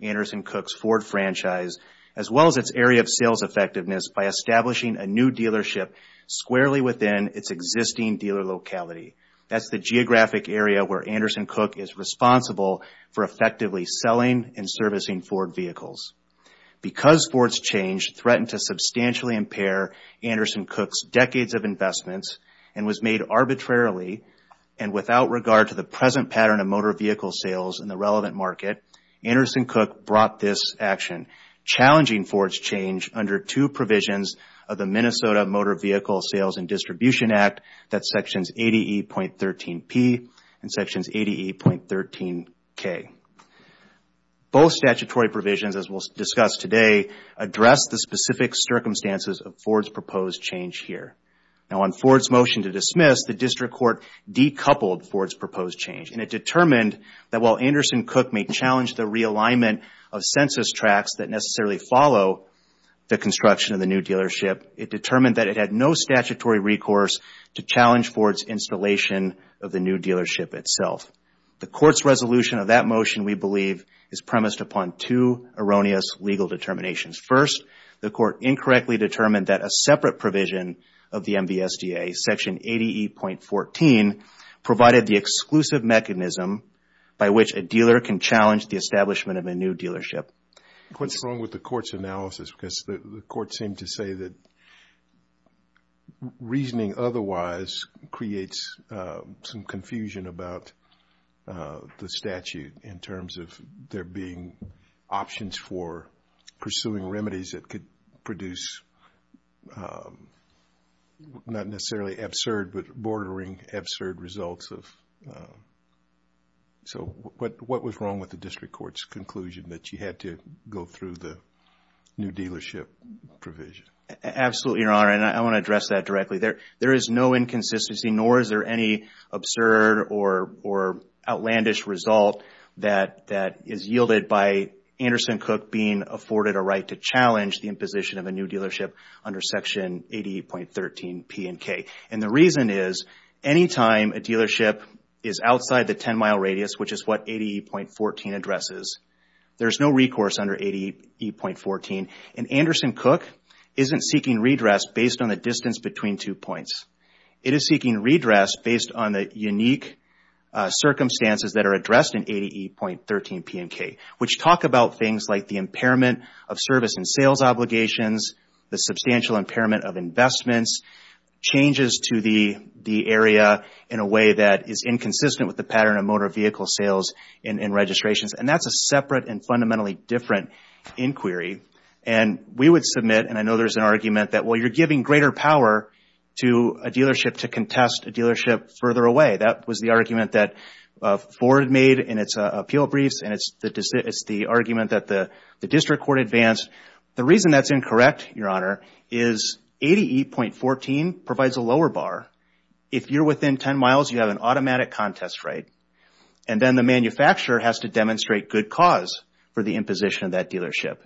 Anderson & Koch's Ford franchise, as well as its area of sales effectiveness, by establishing a new dealership squarely within its existing dealer locality. That's the geographic area where Anderson & Koch is responsible for effectively selling and servicing Ford vehicles. Because Ford's change threatened to substantially impair Anderson & Koch's decades of investments, and was made arbitrarily and without regard to the present pattern of motor vehicle sales in the relevant market, Anderson & Koch brought this action, challenging Ford's change under two provisions of the Minnesota Motor Vehicle Sales and Distribution Act, that's Sections 80E.13P and Sections 80E.13K. Both statutory provisions, as we'll discuss today, address the specific circumstances of Ford's proposed change here. Now, on Ford's motion to dismiss, the District Court decoupled Ford's proposed change, and it determined that while Anderson & Koch may challenge the realignment of census tracts that necessarily follow the construction of the new dealership, it determined that it had no statutory recourse to challenge Ford's installation of the new dealership itself. The Court's resolution of that motion, we believe, is premised upon two erroneous legal determinations. First, the Court incorrectly determined that a separate provision of the MVSDA, Section 80E.14, provided the exclusive mechanism by which a dealer can challenge the establishment of a new dealership. What's wrong with the Court's analysis? Because the Court seemed to say that reasoning otherwise creates some confusion about the statute in terms of there being options for pursuing remedies that could produce, not necessarily absurd, but bordering absurd results. So, what was wrong with the District Court's conclusion that you had to go through the new dealership provision? Absolutely, Your Honor, and I want to address that directly. There is no inconsistency, nor is there any absurd or outlandish result that is yielded by Anderson & Koch being afforded a right to challenge the imposition of a new dealership under Section 80E.13 P&K. And the reason is, anytime a dealership is outside the 10-mile radius, which is what 80E.14 addresses, there is no recourse under 80E.14. And Anderson & Koch isn't seeking redress based on the distance between two points. It is seeking redress based on the unique circumstances that are addressed in 80E.13 P&K, which talk about things like the impairment of service and sales obligations, the substantial impairment of investments, changes to the area in a way that is inconsistent with the pattern of motor vehicle sales and registrations. And that's a separate and fundamentally different inquiry. And we would submit, and I know there's an argument that, well, you're giving greater power to a dealership to contest a dealership further away. That was the argument that Ford made in its appeal briefs, and it's the argument that the District Court advanced. The reason that's incorrect, Your Honor, is 80E.14 provides a lower bar. If you're within 10 miles, you have an automatic contest right. And then the manufacturer has to demonstrate good cause for the imposition of that dealership.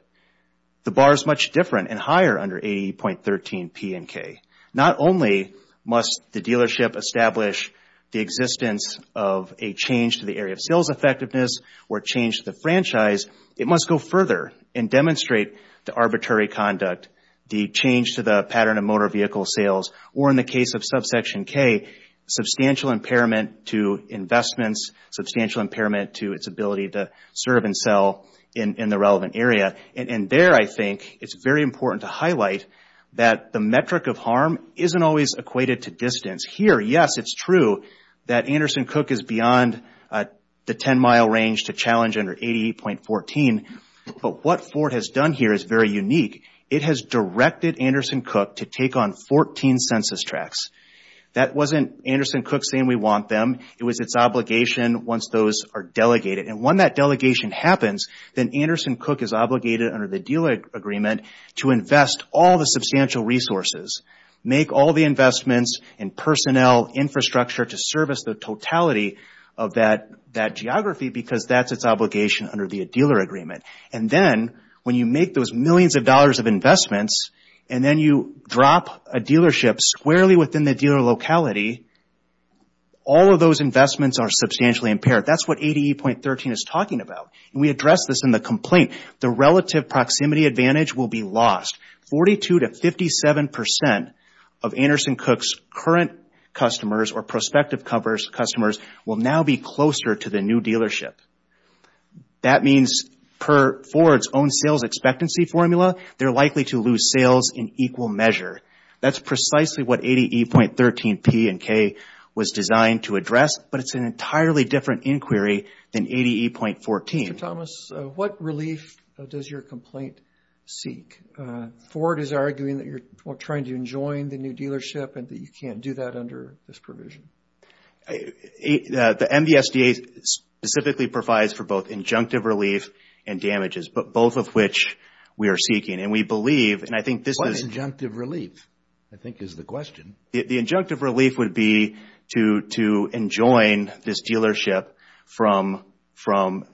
The bar is much different and higher under 80E.13 P&K. Not only must the dealership establish the existence of a change to the area of sales effectiveness or change to the franchise, it must go further and demonstrate the arbitrary conduct, the change to the pattern of motor vehicle sales, or in the case of subsection K, substantial impairment to investments, substantial impairment to its ability to serve and sell in the relevant area. And there, I think, it's very important to highlight that the metric of harm isn't always equated to distance. Here, yes, it's true that Anderson Cooke is beyond the 10-mile range to challenge under 80E.14. But what Ford has done here is very unique. It has directed Anderson Cooke to take on 14 census tracts. That wasn't Anderson Cooke saying we want them. It was its obligation once those are delegated. And when that delegation happens, then Anderson Cooke is obligated under the dealer agreement to invest all the substantial resources, make all the investments in personnel, infrastructure to service the totality of that geography, because that's its obligation under the dealer agreement. And then when you make those millions of dollars of investments, and then you drop a dealership squarely within the dealer locality, all of those investments are substantially impaired. That's what 80E.13 is talking about. And we addressed this in the complaint. The relative proximity advantage will be lost. Forty-two to 57% of Anderson Cooke's current customers or prospective customers will now be closer to the new dealership. That means per Ford's own sales expectancy formula, they're likely to lose sales in equal measure. That's precisely what 80E.13P and K was designed to address, but it's an entirely different inquiry than 80E.14. Mr. Thomas, what relief does your complaint seek? Ford is arguing that you're trying to enjoin the new dealership and that you can't do that under this provision. The MDSDA specifically provides for both injunctive relief and damages, but both of which we are seeking. And we believe, and I think this is- What is injunctive relief, I think is the question. The injunctive relief would be to enjoin this dealership from-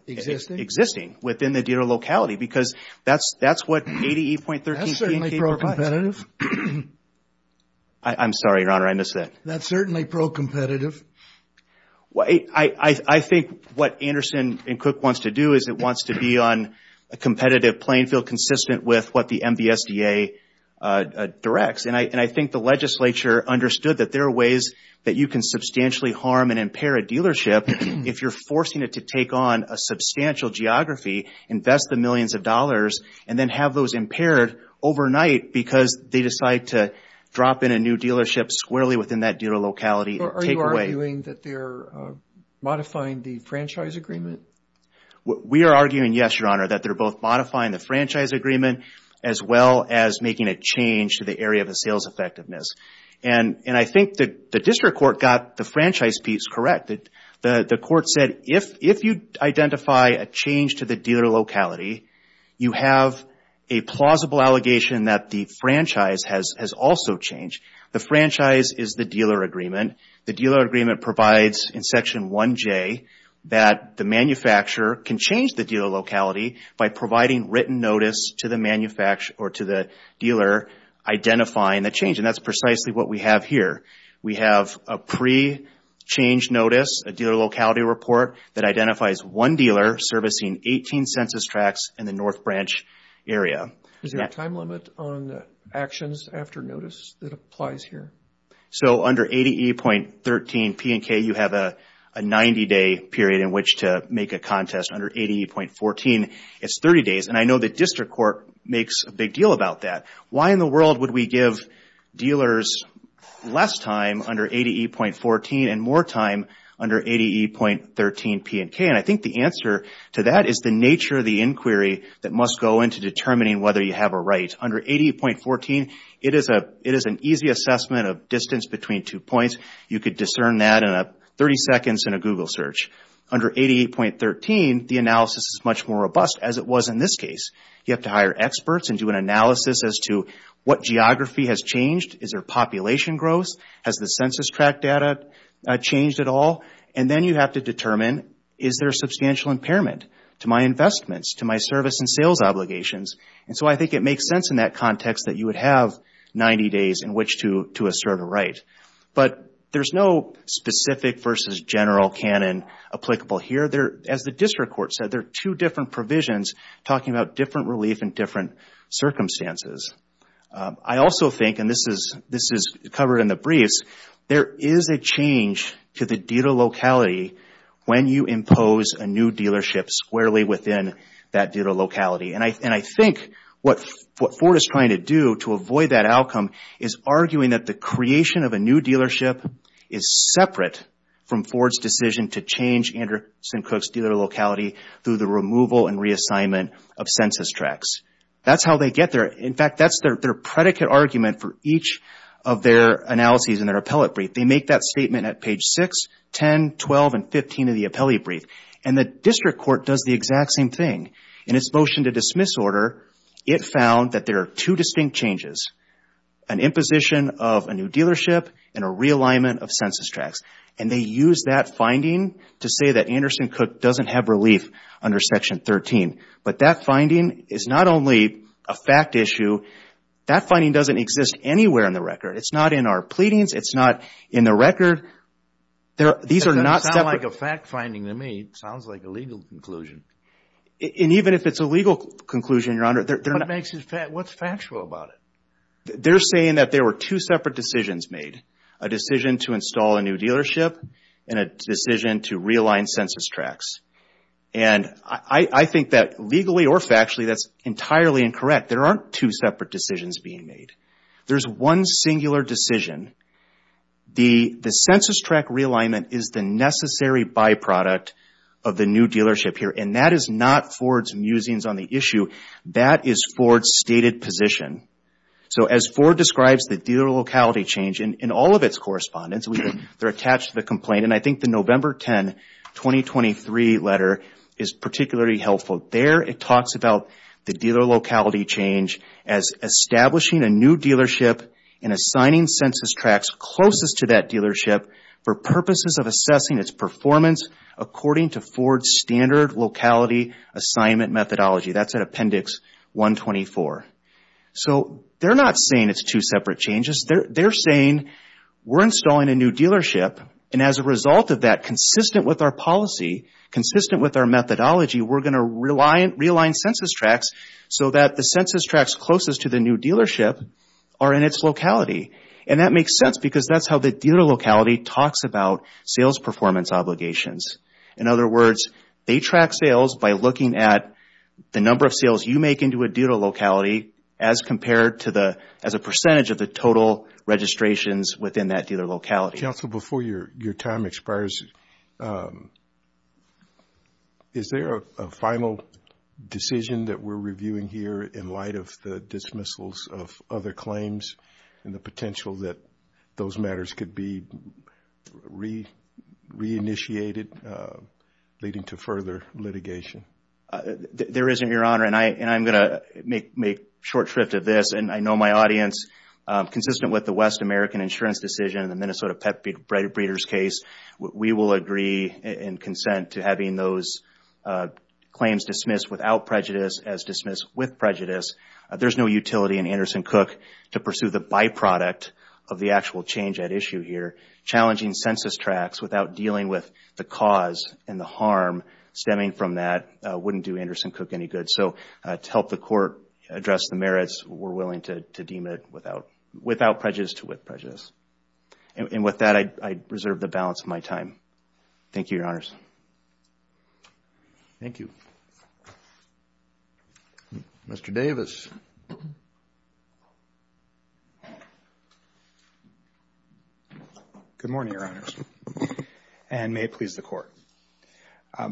Existing? Existing within the dealer locality because that's what 80E.13P and K provides. I'm sorry, Your Honor, I missed that. That's certainly pro-competitive. I think what Anderson and Cooke wants to do is it wants to be on a competitive playing field consistent with what the MDSDA directs. And I think the legislature understood that there are ways that you can substantially harm and impair a dealership if you're forcing it to take on a substantial geography, invest the millions of dollars, and then have those impaired overnight because they decide to drop in a new dealership squarely within that dealer locality. Are you arguing that they're modifying the franchise agreement? We are arguing, yes, Your Honor, that they're both modifying the franchise agreement as well as making a change to the area of the sales effectiveness. And I think the district court got the franchise piece correct. The court said if you identify a change to the dealer locality, you have a plausible allegation that the franchise has also changed. The franchise is the dealer agreement. The dealer agreement provides in Section 1J that the manufacturer can change the dealer locality by providing written notice to the dealer identifying the change. And that's precisely what we have here. We have a pre-change notice, a dealer locality report, that identifies one dealer servicing 18 census tracts in the North Branch area. Is there a time limit on actions after notice that applies here? So under 80E.13 P&K, you have a 90-day period in which to make a contest. Under 80E.14, it's 30 days. And I know the district court makes a big deal about that. Why in the world would we give dealers less time under 80E.14 and more time under 80E.13 P&K? And I think the answer to that is the nature of the inquiry that must go into determining whether you have a right. Under 80E.14, it is an easy assessment of distance between two points. You could discern that in 30 seconds in a Google search. Under 80E.13, the analysis is much more robust as it was in this case. You have to hire experts and do an analysis as to what geography has changed. Is there population growth? Has the census tract data changed at all? And then you have to determine, is there a substantial impairment to my investments, to my service and sales obligations? And so I think it makes sense in that context that you would have 90 days in which to assert a right. But there's no specific versus general canon applicable here. As the district court said, there are two different provisions talking about different relief in different circumstances. I also think, and this is covered in the briefs, there is a change to the dealer locality when you impose a new dealership squarely within that dealer locality. And I think what Ford is trying to do to avoid that outcome is arguing that the creation of a new dealership is separate from Ford's decision to change Anderson Cooke's dealer locality through the removal and reassignment of census tracts. That's how they get there. In fact, that's their predicate argument for each of their analyses in their appellate brief. They make that statement at page 6, 10, 12, and 15 of the appellate brief. And the district court does the exact same thing. In its motion to dismiss order, it found that there are two distinct changes, an imposition of a new dealership and a realignment of census tracts. And they use that finding to say that Anderson Cooke doesn't have relief under Section 13. But that finding is not only a fact issue. That finding doesn't exist anywhere in the record. It's not in our pleadings. It's not in the record. These are not separate. It doesn't sound like a fact finding to me. It sounds like a legal conclusion. And even if it's a legal conclusion, Your Honor. What's factual about it? They're saying that there were two separate decisions made, a decision to install a new dealership and a decision to realign census tracts. And I think that legally or factually that's entirely incorrect. There aren't two separate decisions being made. There's one singular decision. The census tract realignment is the necessary byproduct of the new dealership here. And that is not Ford's musings on the issue. That is Ford's stated position. So as Ford describes the dealer locality change in all of its correspondence, they're attached to the complaint. And I think the November 10, 2023 letter is particularly helpful. There it talks about the dealer locality change as establishing a new dealership and assigning census tracts closest to that dealership for purposes of assessing its performance according to Ford's standard locality assignment methodology. That's at Appendix 124. So they're not saying it's two separate changes. They're saying we're installing a new dealership, and as a result of that, consistent with our policy, consistent with our methodology, we're going to realign census tracts so that the census tracts closest to the new dealership are in its locality. And that makes sense because that's how the dealer locality talks about sales performance obligations. In other words, they track sales by looking at the number of sales you make into a dealer locality as compared to the – as a percentage of the total registrations within that dealer locality. Counsel, before your time expires, is there a final decision that we're reviewing here in light of the dismissals of other claims and the potential that those matters could be re-initiated leading to further litigation? There isn't, Your Honor, and I'm going to make short shrift of this. And I know my audience, consistent with the West American insurance decision and the Minnesota pet breeders case, we will agree and consent to having those claims dismissed without prejudice as dismissed with prejudice. There's no utility in Anderson-Cook to pursue the byproduct of the actual change at issue here. Challenging census tracts without dealing with the cause and the harm stemming from that wouldn't do Anderson-Cook any good. So to help the court address the merits, we're willing to deem it without prejudice to wit prejudice. And with that, I reserve the balance of my time. Thank you, Your Honors. Thank you. Mr. Davis. Good morning, Your Honors, and may it please the Court. I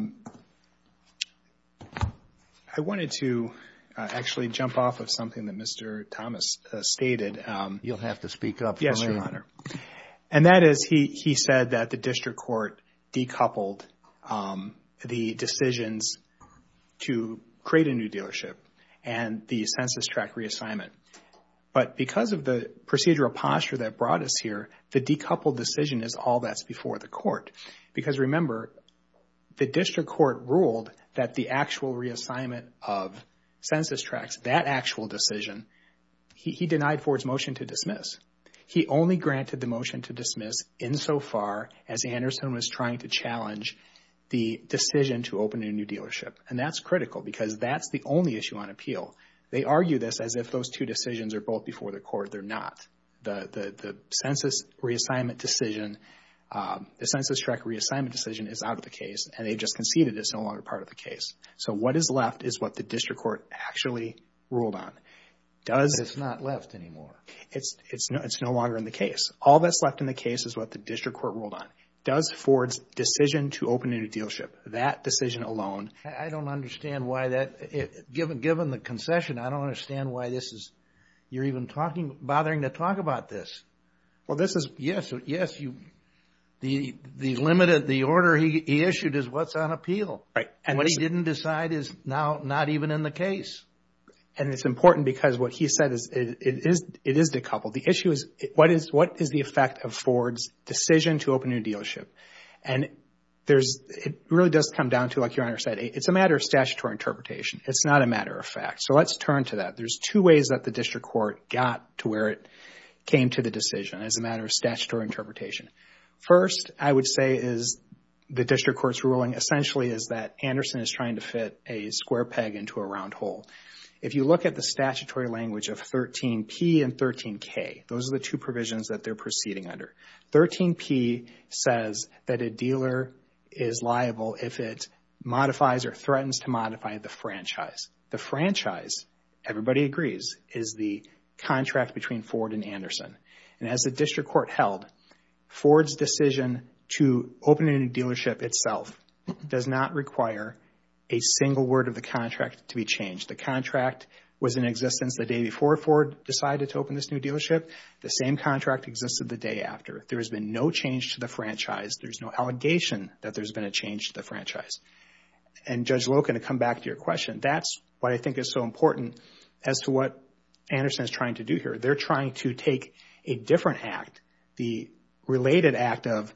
wanted to actually jump off of something that Mr. Thomas stated. You'll have to speak up for me. And that is he said that the district court decoupled the decisions to create a new dealership and the census tract reassignment. But because of the procedural posture that brought us here, the decoupled decision is all that's before the court. Because remember, the district court ruled that the actual reassignment of census tracts, that actual decision, he denied Ford's motion to dismiss. He only granted the motion to dismiss insofar as Anderson was trying to challenge the decision to open a new dealership. And that's critical because that's the only issue on appeal. They argue this as if those two decisions are both before the court. They're not. The census reassignment decision, the census tract reassignment decision is out of the case and they've just conceded it's no longer part of the case. So what is left is what the district court actually ruled on. But it's not left anymore. It's no longer in the case. All that's left in the case is what the district court ruled on. Does Ford's decision to open a new dealership, that decision alone. I don't understand why that, given the concession, I don't understand why this is, you're even bothering to talk about this. Well, this is, yes. The order he issued is what's on appeal. And what he didn't decide is now not even in the case. And it's important because what he said, it is decoupled. The issue is what is the effect of Ford's decision to open a new dealership? And it really does come down to, like Your Honor said, it's a matter of statutory interpretation. It's not a matter of fact. So let's turn to that. There's two ways that the district court got to where it came to the decision as a matter of statutory interpretation. First, I would say is the district court's ruling essentially is that Anderson is trying to fit a square peg into a round hole. If you look at the statutory language of 13P and 13K, those are the two provisions that they're proceeding under. 13P says that a dealer is liable if it modifies or threatens to modify the franchise. The franchise, everybody agrees, is the contract between Ford and Anderson. And as the district court held, Ford's decision to open a new dealership itself does not require a single word of the contract to be changed. The contract was in existence the day before Ford decided to open this new dealership. The same contract existed the day after. There has been no change to the franchise. There's no allegation that there's been a change to the franchise. And Judge Loken, to come back to your question, that's why I think it's so important as to what Anderson is trying to do here. They're trying to take a different act, the related act of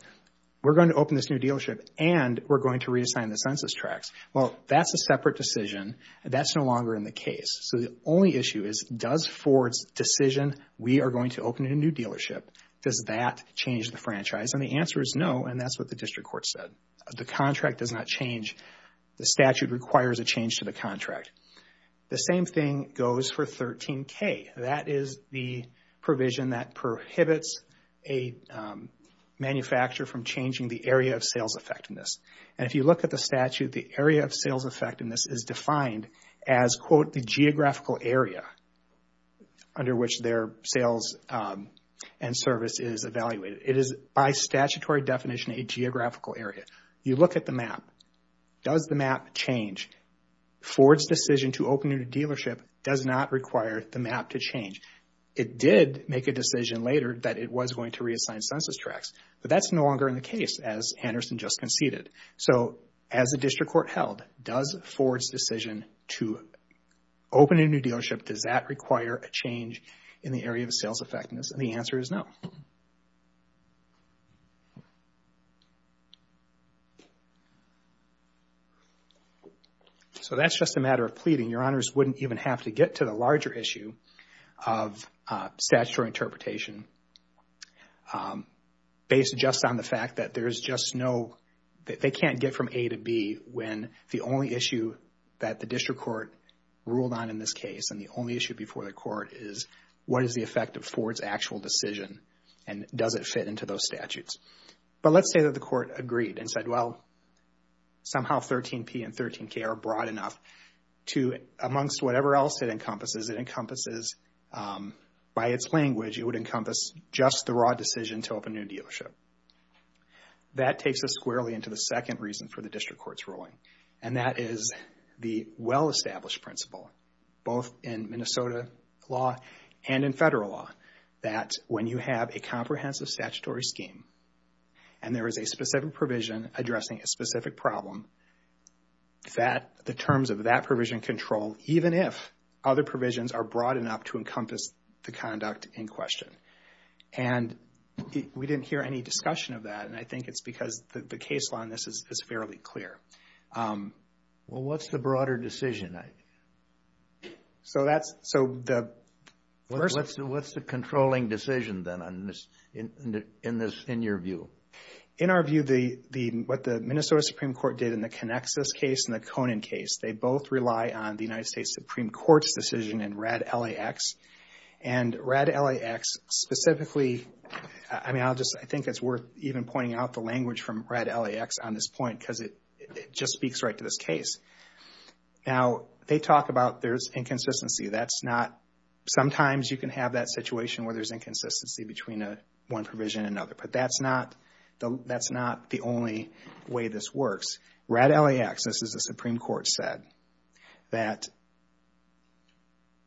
we're going to open this new dealership and we're going to redesign the census tracts. Well, that's a separate decision. That's no longer in the case. So the only issue is does Ford's decision, we are going to open a new dealership, does that change the franchise? And the answer is no, and that's what the district court said. The contract does not change. The statute requires a change to the contract. The same thing goes for 13K. That is the provision that prohibits a manufacturer from changing the area of sales effectiveness. And if you look at the statute, the area of sales effectiveness is defined as, quote, the geographical area under which their sales and service is evaluated. It is, by statutory definition, a geographical area. You look at the map. Does the map change? Ford's decision to open a new dealership does not require the map to change. It did make a decision later that it was going to reassign census tracts, but that's no longer in the case, as Anderson just conceded. So as the district court held, does Ford's decision to open a new dealership, does that require a change in the area of sales effectiveness? And the answer is no. So that's just a matter of pleading. Your Honors wouldn't even have to get to the larger issue of statutory interpretation based just on the fact that there's just no, that they can't get from A to B when the only issue that the district court ruled on in this case and the only issue before the court is what is the effect of Ford's actual decision and does it fit into those statutes. But let's say that the court agreed and said, well, somehow 13P and 13K are broad enough to, amongst whatever else it encompasses, it encompasses, by its language, it would encompass just the raw decision to open a new dealership. That takes us squarely into the second reason for the district court's ruling, and that is the well-established principle, both in Minnesota law and in federal law, that when you have a comprehensive statutory scheme and there is a specific provision addressing a specific problem, that the terms of that provision control, even if other provisions are broad enough to encompass the conduct in question. And we didn't hear any discussion of that, and I think it's because the case law on this is fairly clear. Well, what's the broader decision? So that's, so the... What's the controlling decision, then, in your view? In our view, what the Minnesota Supreme Court did in the Canexas case and the Conan case, they both rely on the United States Supreme Court's decision in RAD LAX, and RAD LAX specifically, I mean, I'll just, I think it's worth even pointing out the language from RAD LAX on this point because it just speaks right to this case. Now, they talk about there's inconsistency. That's not, sometimes you can have that situation where there's inconsistency between one provision and another, but that's not the only way this works. RAD LAX, this is what the Supreme Court said, that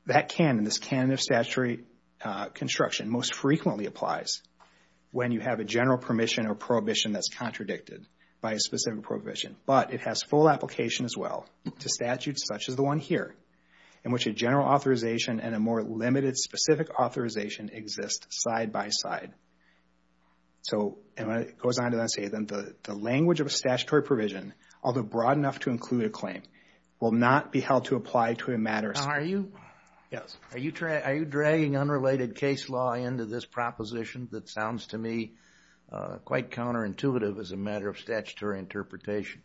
that canon, this canon of statutory construction, most frequently applies when you have a general permission or prohibition that's contradicted by a specific prohibition, but it has full application as well to statutes such as the one here in which a general authorization and a more limited specific authorization exist side by side. So, and it goes on to say that the language of a statutory provision, although broad enough to include a claim, will not be held to apply to a matter... Now, are you dragging unrelated case law into this proposition that sounds to me quite counterintuitive as a matter of statutory interpretation?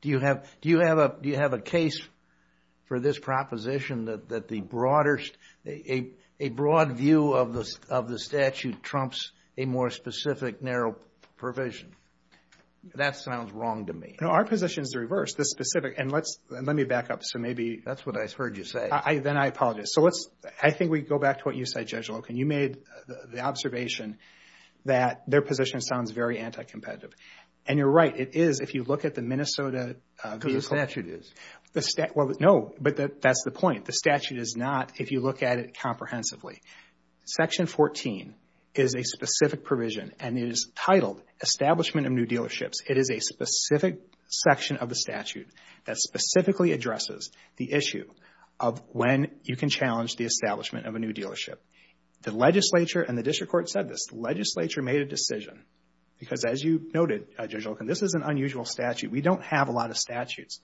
Do you have a case for this proposition that a broad view of the statute trumps a more specific narrow provision? That sounds wrong to me. No, our position is the reverse. The specific, and let me back up, so maybe... That's what I heard you say. Then I apologize. I think we go back to what you said, Judge Loken. You made the observation that their position sounds very anti-competitive, and you're right. It is if you look at the Minnesota... Because the statute is. No, but that's the point. The statute is not if you look at it comprehensively. Section 14 is a specific provision, and it is titled Establishment of New Dealerships. It is a specific section of the statute that specifically addresses the issue of when you can challenge the establishment of a new dealership. The legislature and the district court said this. The legislature made a decision, because as you noted, Judge Loken, this is an unusual statute. We don't have a lot of statutes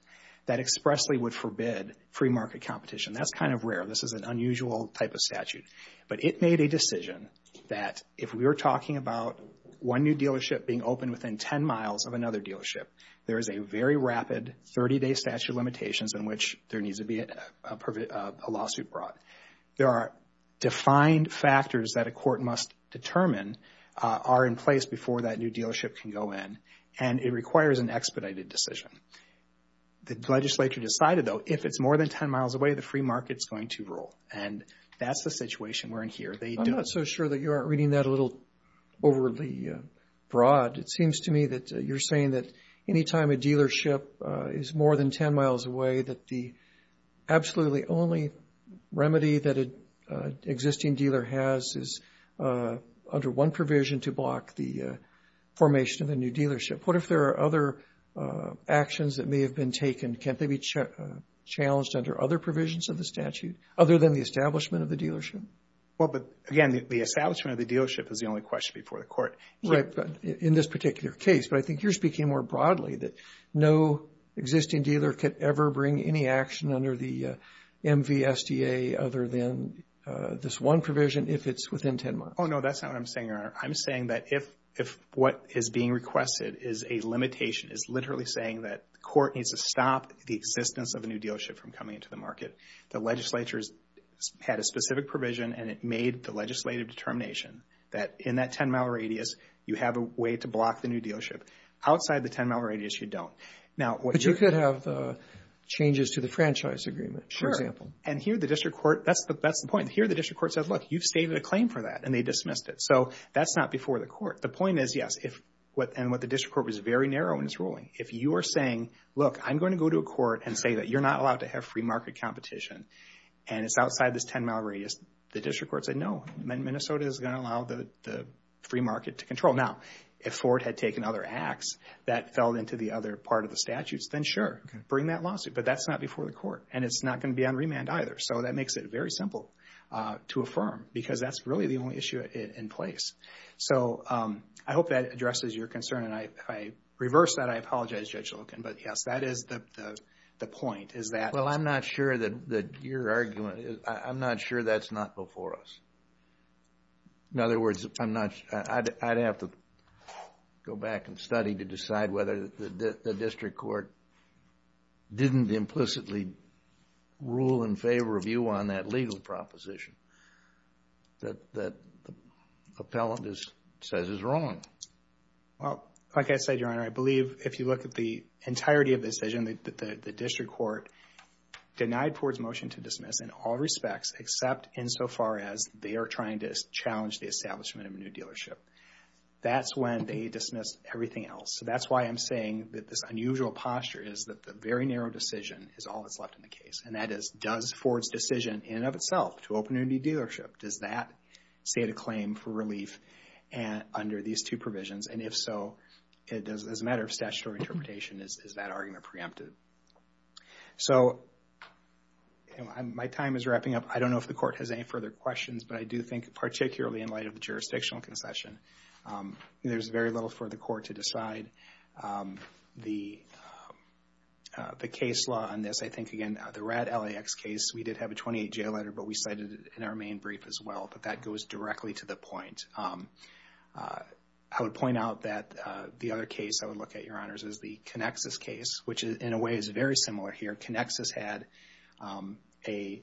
that expressly would forbid free market competition. That's kind of rare. This is an unusual type of statute. But it made a decision that if we were talking about one new dealership being open within 10 miles of another dealership, there is a very rapid 30-day statute of limitations in which there needs to be a lawsuit brought. There are defined factors that a court must determine are in place before that new dealership can go in, and it requires an expedited decision. The legislature decided, though, if it's more than 10 miles away, the free market's going to rule, and that's the situation we're in here. I'm not so sure that you aren't reading that a little overly broad. It seems to me that you're saying that any time a dealership is more than 10 miles away, that the absolutely only remedy that an existing dealer has is under one provision to block the formation of a new dealership. What if there are other actions that may have been taken? Can't they be challenged under other provisions of the statute other than the establishment of the dealership? Well, but again, the establishment of the dealership is the only question before the court. Right, but in this particular case, but I think you're speaking more broadly that no existing dealer could ever bring any action under the MVSDA other than this one provision if it's within 10 miles. Oh, no, that's not what I'm saying, Your Honor. I'm saying that if what is being requested is a limitation, is literally saying that the court needs to stop the existence of a new dealership from coming into the market, the legislature had a specific provision and it made the legislative determination that in that 10-mile radius, you have a way to block the new dealership. Outside the 10-mile radius, you don't. But you could have changes to the franchise agreement, for example. Sure, and here the district court, that's the point. Here the district court said, look, you've stated a claim for that, and they dismissed it. So that's not before the court. The point is, yes, and what the district court was very narrow in its ruling. If you are saying, look, I'm going to go to a court and say that you're not allowed to have free market competition, and it's outside this 10-mile radius, the district court said, no, Minnesota is going to allow the free market to control. Now, if Ford had taken other acts that fell into the other part of the statutes, then sure, bring that lawsuit, but that's not before the court, and it's not going to be on remand either. So that makes it very simple to affirm, because that's really the only issue in place. So I hope that addresses your concern, and if I reverse that, I apologize, Judge Loken, but yes, that is the point. Is that... Well, I'm not sure that your argument is... I'm not sure that's not before us. In other words, I'm not... I'd have to go back and study to decide whether the district court didn't implicitly rule in favor of you on that legal proposition that the appellant says is wrong. Well, like I said, Your Honor, I believe if you look at the entirety of the decision, the district court denied Ford's motion to dismiss in all respects, except insofar as they are trying to challenge the establishment of a new dealership. That's when they dismissed everything else. So that's why I'm saying that this unusual posture is that the very narrow decision is all that's left in the case, and that is, does Ford's decision in and of itself to open a new dealership, does that state a claim for relief under these two provisions? And if so, as a matter of statutory interpretation, is that argument preempted? So my time is wrapping up. I don't know if the court has any further questions, but I do think particularly in light of the jurisdictional concession, there's very little for the court to decide. The case law on this, I think, again, the RAD LAX case, we did have a 28-J letter, but we cited it in our main brief as well, but that goes directly to the point. I would point out that the other case I would look at, Your Honors, is the Connexus case, which in a way is very similar here. Connexus had a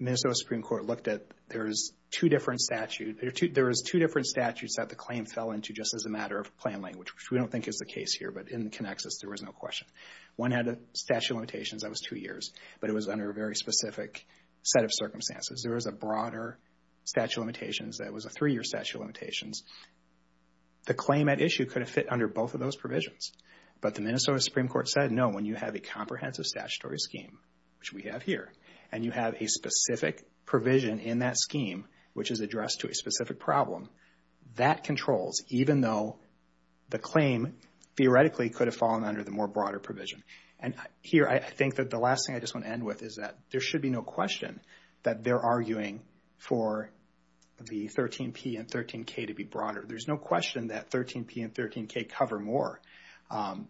Minnesota Supreme Court looked at. There's two different statutes that the claim fell into just as a matter of plain language, which we don't think is the case here, but in Connexus there was no question. One had a statute of limitations that was two years, but it was under a very specific set of circumstances. There was a broader statute of limitations that was a three-year statute of limitations. The claim at issue could have fit under both of those provisions, but the Minnesota Supreme Court said, no, when you have a comprehensive statutory scheme, which we have here, and you have a specific provision in that scheme, which is addressed to a specific problem, that controls even though the claim theoretically could have fallen under the more broader provision. Here I think that the last thing I just want to end with is that there should be no question that they're arguing for the 13P and 13K to be broader. There's no question that 13P and 13K cover more.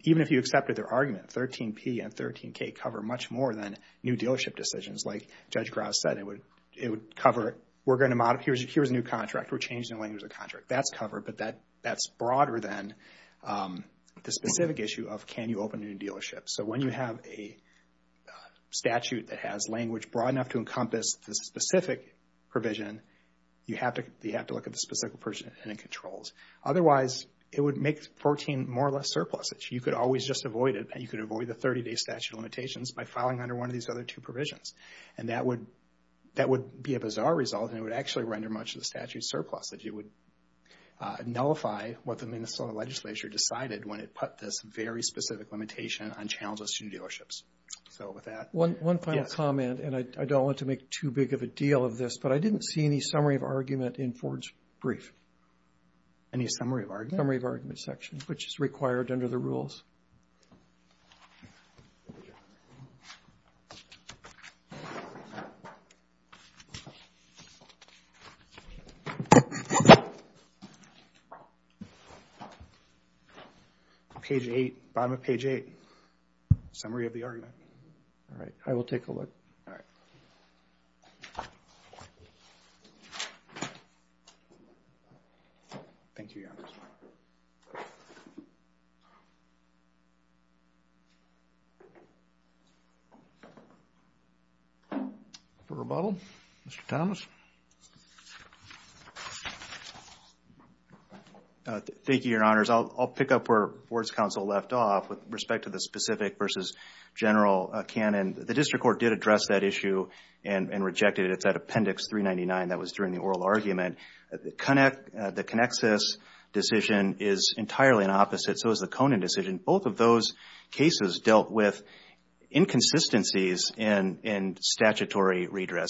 Even if you accepted their argument, 13P and 13K cover much more than new dealership decisions. Like Judge Grouse said, it would cover, here's a new contract, we're changing the language of the contract. That's covered, but that's broader than the specific issue of can you open a new dealership. So when you have a statute that has language broad enough to encompass the specific provision, you have to look at the specific person and controls. Otherwise, it would make 14 more or less surpluses. You could always just avoid it. You could avoid the 30-day statute of limitations by filing under one of these other two provisions. And that would be a bizarre result, and it would actually render much of the statute surplus. It would nullify what the Minnesota legislature decided when it put this very specific limitation on channels of student dealerships. So with that, yes. One final comment, and I don't want to make too big of a deal of this, but I didn't see any summary of argument in Ford's brief. Any summary of argument? Summary of argument section, which is required under the rules. Page 8, bottom of page 8. Summary of the argument. All right. I will take a look. All right. Thank you, Your Honor. For rebuttal, Mr. Thomas. Thank you, Your Honors. I'll pick up where Board's counsel left off with respect to the specific versus general canon. The district court did address that issue and rejected it. It's that Appendix 399 that was during the oral argument. The Connexus decision is entirely an opposite, so is the Conan decision. Both of those cases dealt with inconsistencies in statutory redress.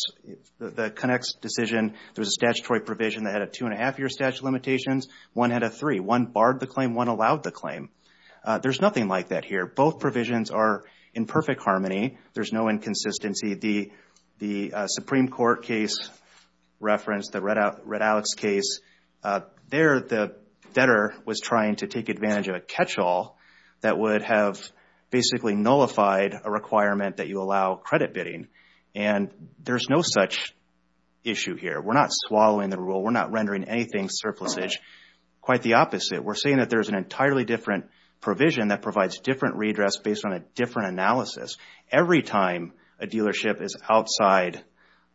The Connexus decision, there was a statutory provision that had a two-and-a-half-year statute of limitations. One had a three. One barred the claim. One allowed the claim. There's nothing like that here. Both provisions are in perfect harmony. There's no inconsistency. The Supreme Court case reference, the Red Alex case, there the debtor was trying to take advantage of a catch-all that would have basically nullified a requirement that you allow credit bidding, and there's no such issue here. We're not swallowing the rule. We're not rendering anything surplusage. Quite the opposite. We're saying that there's an entirely different provision that provides different redress based on a different analysis. Every time a dealership is outside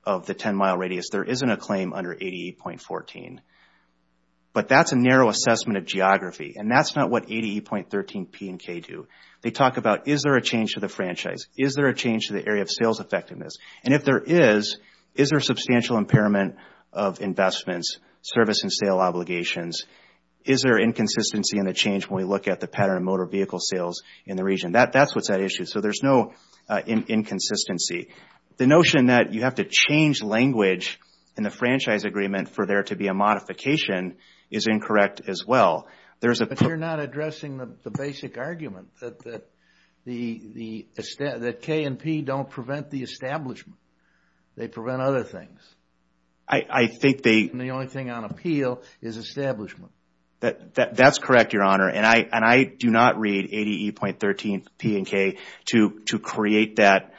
of the 10-mile radius, there isn't a claim under ADE.14. But that's a narrow assessment of geography, and that's not what ADE.13P and K do. They talk about is there a change to the franchise? Is there a change to the area of sales effectiveness? And if there is, is there substantial impairment of investments, service and sale obligations? Is there inconsistency in the change when we look at the pattern of motor vehicle sales in the region? That's what's at issue. So there's no inconsistency. The notion that you have to change language in the franchise agreement for there to be a modification is incorrect as well. But you're not addressing the basic argument that K and P don't prevent the establishment. They prevent other things. I think they... And the only thing on appeal is establishment. That's correct, Your Honor. And I do not read ADE.13P and K to create that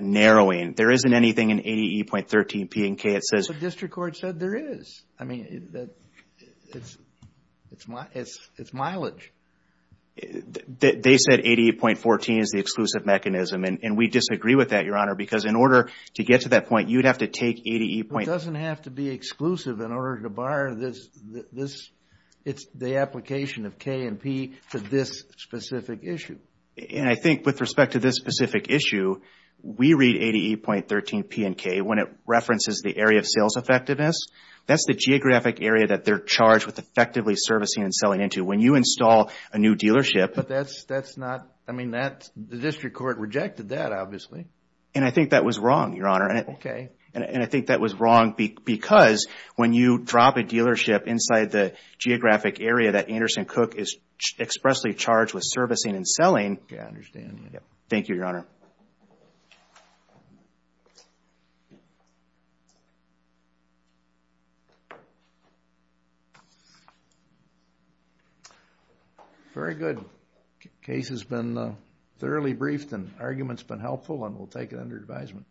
narrowing. There isn't anything in ADE.13P and K that says... The district court said there is. I mean, it's mileage. They said ADE.14 is the exclusive mechanism, and we disagree with that, Your Honor, because in order to get to that point, you'd have to take ADE.... It doesn't have to be exclusive in order to bar this. It's the application of K and P to this specific issue. And I think with respect to this specific issue, we read ADE.13P and K when it references the area of sales effectiveness. That's the geographic area that they're charged with effectively servicing and selling into. When you install a new dealership... But that's not... I mean, the district court rejected that, obviously. And I think that was wrong, Your Honor. Okay. And I think that was wrong because when you drop a dealership inside the geographic area that Anderson Cook is expressly charged with servicing and selling... Yeah, I understand. Thank you, Your Honor. Very good. Case has been thoroughly briefed, and argument's been helpful, and we'll take it under advisement.